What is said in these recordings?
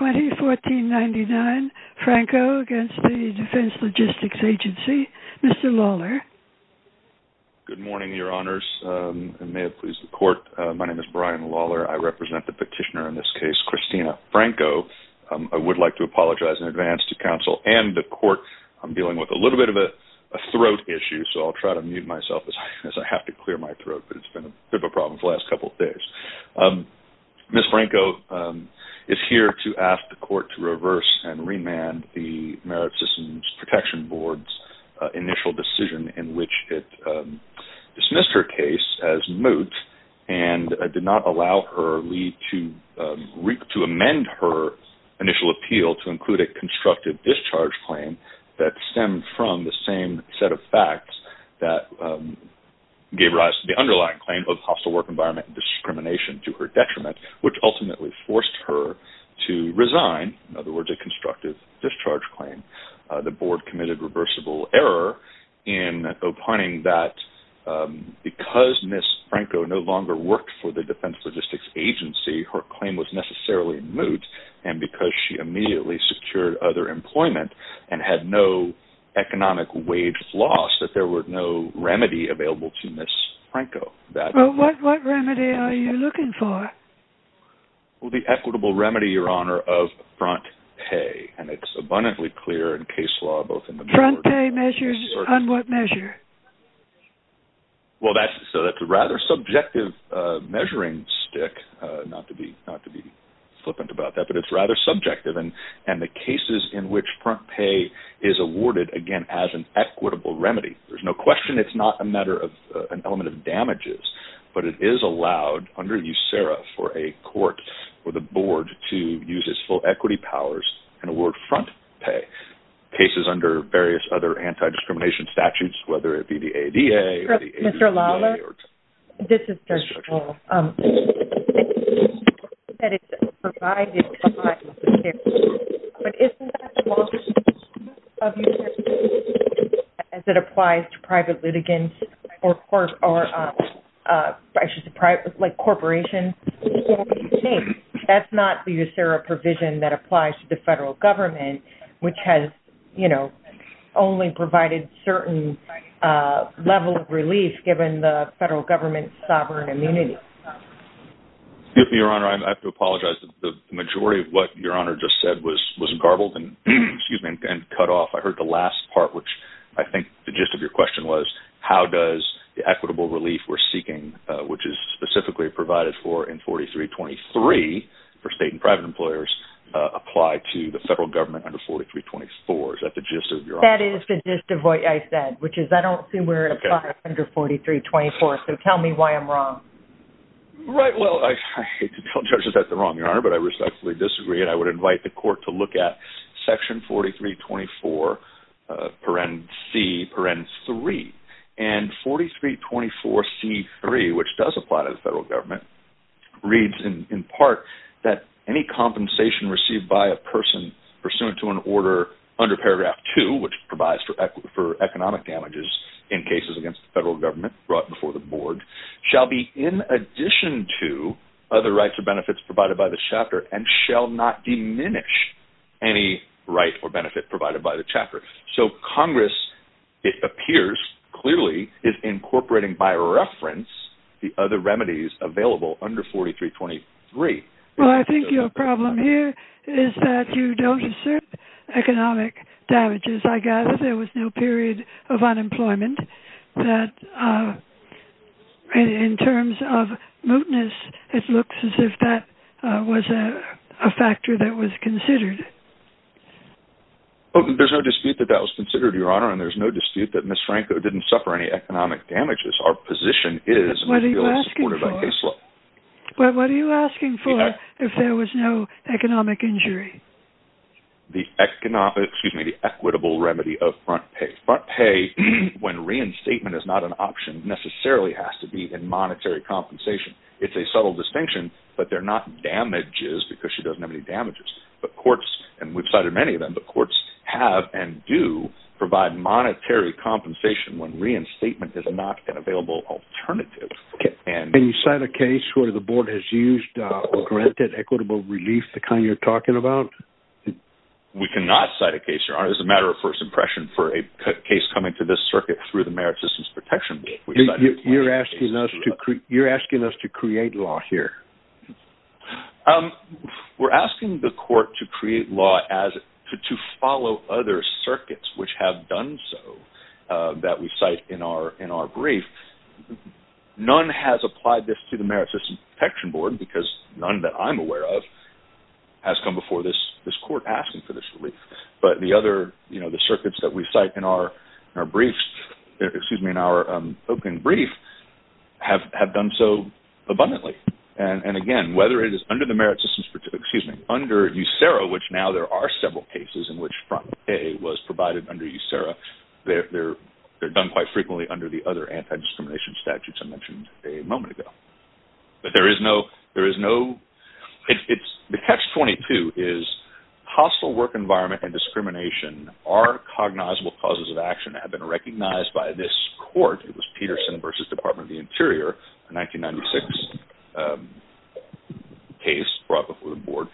2014-99 Franco against the Defense Logistics Agency. Mr. Lawler. Good morning, your honors. And may it please the court, my name is Brian Lawler. I represent the petitioner in this case, Christina Franco. I would like to apologize in advance to counsel and the court. I'm dealing with a little bit of a throat issue, so I'll try to mute myself as I have to clear my throat, but it's been a bit of a problem the last couple of days. Ms. Franco is here to ask the court to reverse and remand the Merit Systems Protection Board's initial decision in which it dismissed her case as moot, and did not allow her lead to amend her initial appeal to include a constructive discharge claim that stemmed from the same set of facts that gave rise to the underlying claim of hostile work environment discrimination to her detriment, which ultimately forced her to resign, in other words, a constructive discharge claim. The board committed reversible error in opining that because Ms. Franco no longer worked for the Defense Logistics Agency, her claim was necessarily moot, and because she immediately secured other employment and had no economic wage loss, that there was no remedy available to Ms. Franco. What remedy are you looking for? The equitable remedy, Your Honor, of front pay, and it's abundantly clear in case law. Front pay measures on what measure? Well, that's a rather subjective measuring stick, not to be flippant about that, but it's rather subjective, and the cases in which front pay is awarded, again, as an equitable remedy, there's no question it's not a matter of an element of damages, but it is allowed under USERRA for a court or the board to use its full equity powers and award front pay. Cases under various other anti-discrimination statutes, whether it be the ADA or the ADA or... Mr. Lawler, this is Judge Powell. ...that it's provided by USERRA, but isn't that the law of USERRA as it applies to private litigants or corporations? That's not the USERRA provision that applies to the federal government, which has, you know, only provided certain level of relief given the federal government's sovereign immunity. Excuse me, Your Honor, I have to apologize. The majority of what Your Honor just said was garbled and cut off. I heard the last part, which I think the gist of your question was, how does the equitable relief we're seeking, which is specifically provided for in 4323 for state and private employers, apply to the federal government under 4324? Is that the gist of Your Honor's question? Right, well, I hate to tell judges that they're wrong, Your Honor, but I respectfully disagree, and I would invite the court to look at section 4324, paren-C, paren-3, and 4324C3, which does apply to the federal government, reads in part that any compensation received by a person pursuant to an order under paragraph 2, which provides for economic damages in cases against the federal government brought before the board, shall be in addition to other rights or benefits provided by the chapter, and shall not diminish any right or benefit provided by the chapter. So Congress, it appears clearly, is incorporating by reference the other remedies available under 4323. Well, I think your problem here is that you don't assert economic damages. I gather there was no period of unemployment that, in terms of mootness, it looks as if that was a factor that was considered. Well, there's no dispute that that was considered, Your Honor, and there's no dispute that Ms. Franco didn't suffer any economic damages. Our position is… But what are you asking for? But what are you asking for if there was no economic injury? The equitable remedy of front pay. Front pay, when reinstatement is not an option, necessarily has to be in monetary compensation. It's a subtle distinction, but they're not damages because she doesn't have any damages. But courts, and we've cited many of them, but courts have and do provide monetary compensation when reinstatement is not an available alternative. Can you cite a case where the board has used or granted equitable relief, the kind you're talking about? We cannot cite a case, Your Honor. It's a matter of first impression for a case coming to this circuit through the Merit Systems Protection Board. You're asking us to create law here. We're asking the court to create law to follow other circuits which have done so that we cite in our brief. None has applied this to the Merit Systems Protection Board because none that I'm aware of has come before this court asking for this relief. But the circuits that we cite in our open brief have done so abundantly. And again, under USERRA, which now there are several cases in which front pay was provided under USERRA, they're done quite frequently under the other anti-discrimination statutes I mentioned a moment ago. The catch-22 is hostile work environment and discrimination are cognizable causes of action that have been recognized by this court. It was Peterson v. Department of the Interior, a 1996 case brought before the board.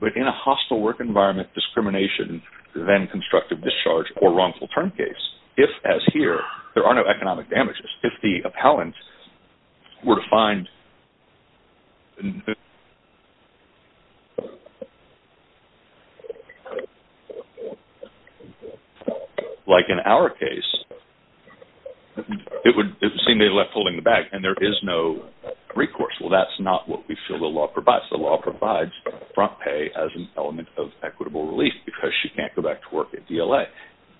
But in a hostile work environment, discrimination then constructed discharge or wrongful term case. If, as here, there are no economic damages, if the appellant were to find... Like in our case, it would seem they left holding the bag and there is no recourse. Well, that's not what we feel the law provides. Unless the law provides front pay as an element of equitable relief because she can't go back to work at DLA.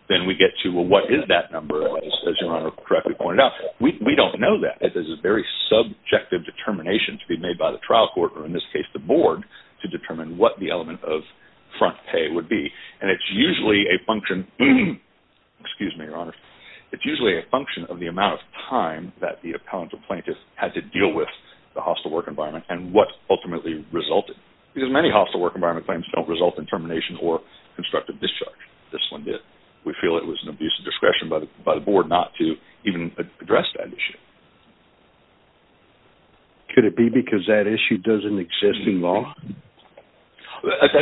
Then we get to, well, what is that number? As Your Honor correctly pointed out, we don't know that. It is a very subjective determination to be made by the trial court, or in this case the board, to determine what the element of front pay would be. And it's usually a function of the amount of time that the appellant or plaintiff had to deal with the hostile work environment and what ultimately resulted. Because many hostile work environment claims don't result in termination or constructive discharge. This one did. We feel it was an abuse of discretion by the board not to even address that issue. Could it be because that issue doesn't exist in law? That's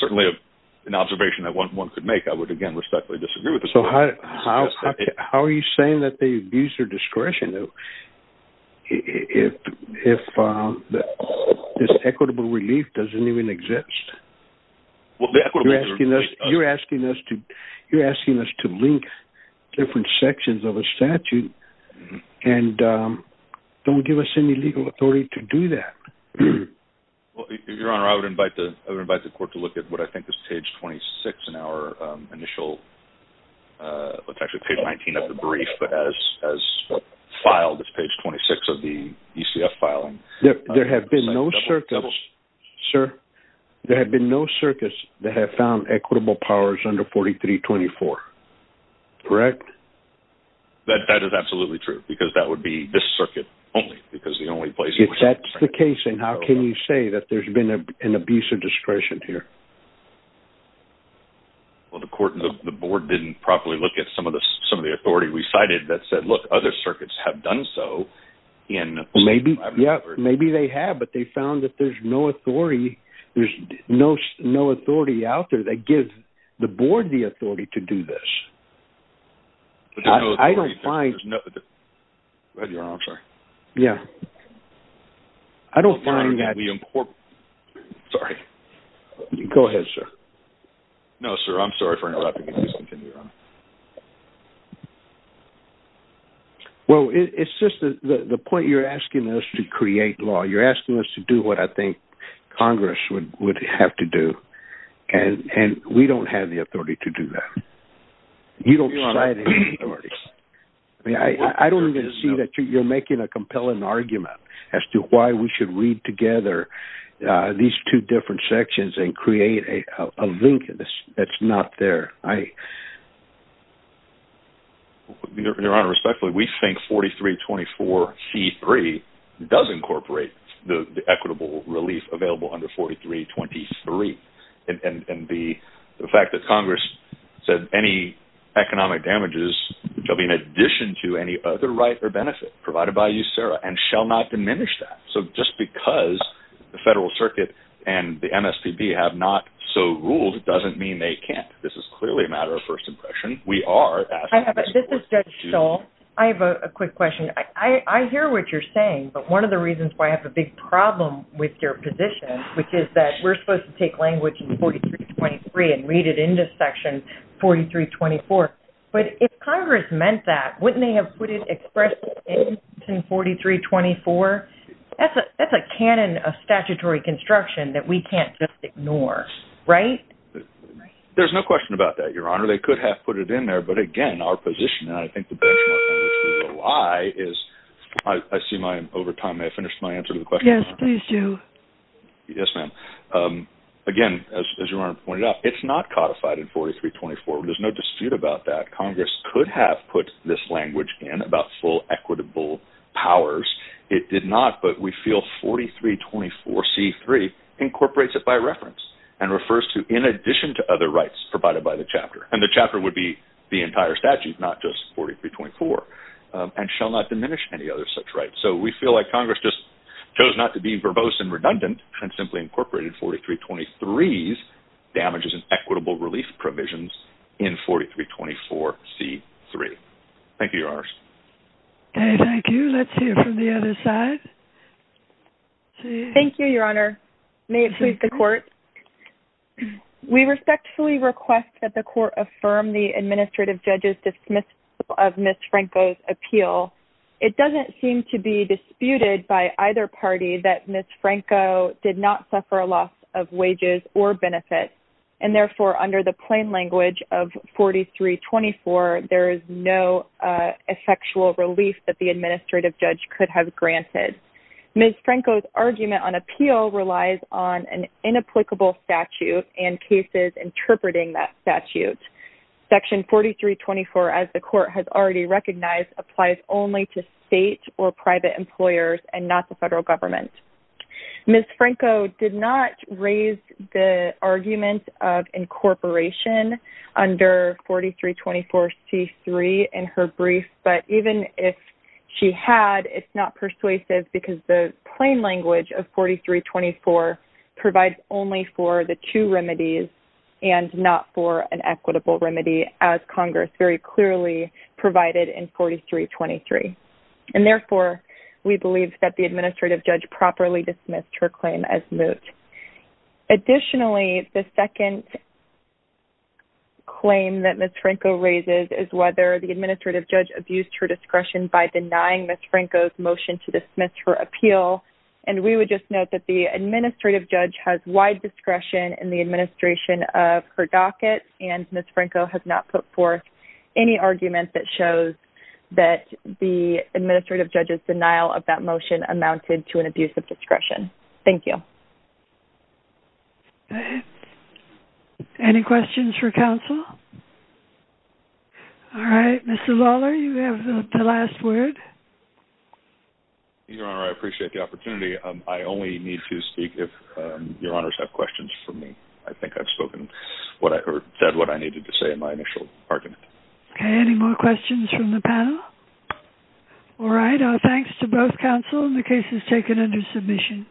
certainly an observation that one could make. I would again respectfully disagree with this. So how are you saying that they abuse their discretion if this equitable relief doesn't even exist? You're asking us to link different sections of a statute and don't give us any legal authority to do that. Your Honor, I would invite the court to look at what I think is page 26 in our initial, it's actually page 19 of the brief, but as filed, it's page 26 of the ECF filing. There have been no circuits, sir, there have been no circuits that have found equitable powers under 4324. Correct? That is absolutely true. Because that would be this circuit only. If that's the case, then how can you say that there's been an abuse of discretion here? Well, the board didn't properly look at some of the authority we cited that said, look, other circuits have done so. Maybe they have, but they found that there's no authority out there that gives the board the authority to do this. I don't find... Go ahead, Your Honor, I'm sorry. Yeah. I don't find that... Sorry. Go ahead, sir. No, sir, I'm sorry for interrupting. Please continue, Your Honor. Well, it's just the point you're asking us to create law, you're asking us to do what I think Congress would have to do, and we don't have the authority to do that. You don't cite any authorities. I don't even see that you're making a compelling argument as to why we should read together these two different sections and create a link that's not there. Your Honor, respectfully, we think 4324C3 does incorporate the equitable relief available under 4323. And the fact that Congress said any economic damages shall be in addition to any other right or benefit provided by you, Sarah, and shall not diminish that. So just because the federal circuit and the MSPB have not so ruled doesn't mean they can't. This is clearly a matter of first impression. We are asking... This is Judge Stoll. I have a quick question. I hear what you're saying, but one of the reasons why I have a big problem with your position, which is that we're supposed to take language in 4323 and read it into Section 4324. But if Congress meant that, wouldn't they have put it expressly in 4324? That's a canon of statutory construction that we can't just ignore, right? There's no question about that, Your Honor. They could have put it in there. But, again, our position, and I think the benchmark on which we rely is... I see my... Over time, may I finish my answer to the question? Yes, please do. Yes, ma'am. Again, as Your Honor pointed out, it's not codified in 4324. There's no dispute about that. Congress could have put this language in about full equitable powers. It did not, but we feel 4324C3 incorporates it by reference and refers to in addition to other rights provided by the chapter. And the chapter would be the entire statute, not just 4324, and shall not diminish any other such rights. So we feel like Congress just chose not to be verbose and redundant and simply incorporated 4323's damages and equitable relief provisions in 4324C3. Thank you, Your Honors. Okay, thank you. Let's hear from the other side. Thank you, Your Honor. May it please the Court. We respectfully request that the Court affirm the administrative judge's dismissal of Ms. Franco's appeal. It doesn't seem to be disputed by either party that Ms. Franco did not suffer a loss of wages or benefits. And therefore, under the plain language of 4324, there is no effectual relief that the administrative judge could have granted. Ms. Franco's argument on appeal relies on an inapplicable statute and cases interpreting that statute. Section 4324, as the Court has already recognized, applies only to state or private employers and not the federal government. Ms. Franco did not raise the argument of incorporation under 4324C3 in her brief. But even if she had, it's not persuasive because the plain language of 4324 provides only for the two remedies and not for an equitable remedy, as Congress very clearly provided in 4323. And therefore, we believe that the administrative judge properly dismissed her claim as moot. Additionally, the second claim that Ms. Franco raises is whether the administrative judge abused her discretion by denying Ms. Franco's motion to dismiss her appeal. And we would just note that the administrative judge has wide discretion in the administration of her docket. And Ms. Franco has not put forth any argument that shows that the administrative judge's denial of that motion amounted to an abuse of discretion. Thank you. Any questions for counsel? All right, Mr. Lawler, you have the last word. Your Honor, I appreciate the opportunity. I only need to speak if Your Honors have questions for me. I think I've said what I needed to say in my initial argument. Okay, any more questions from the panel? All right, thanks to both counsel. The case is taken under submission.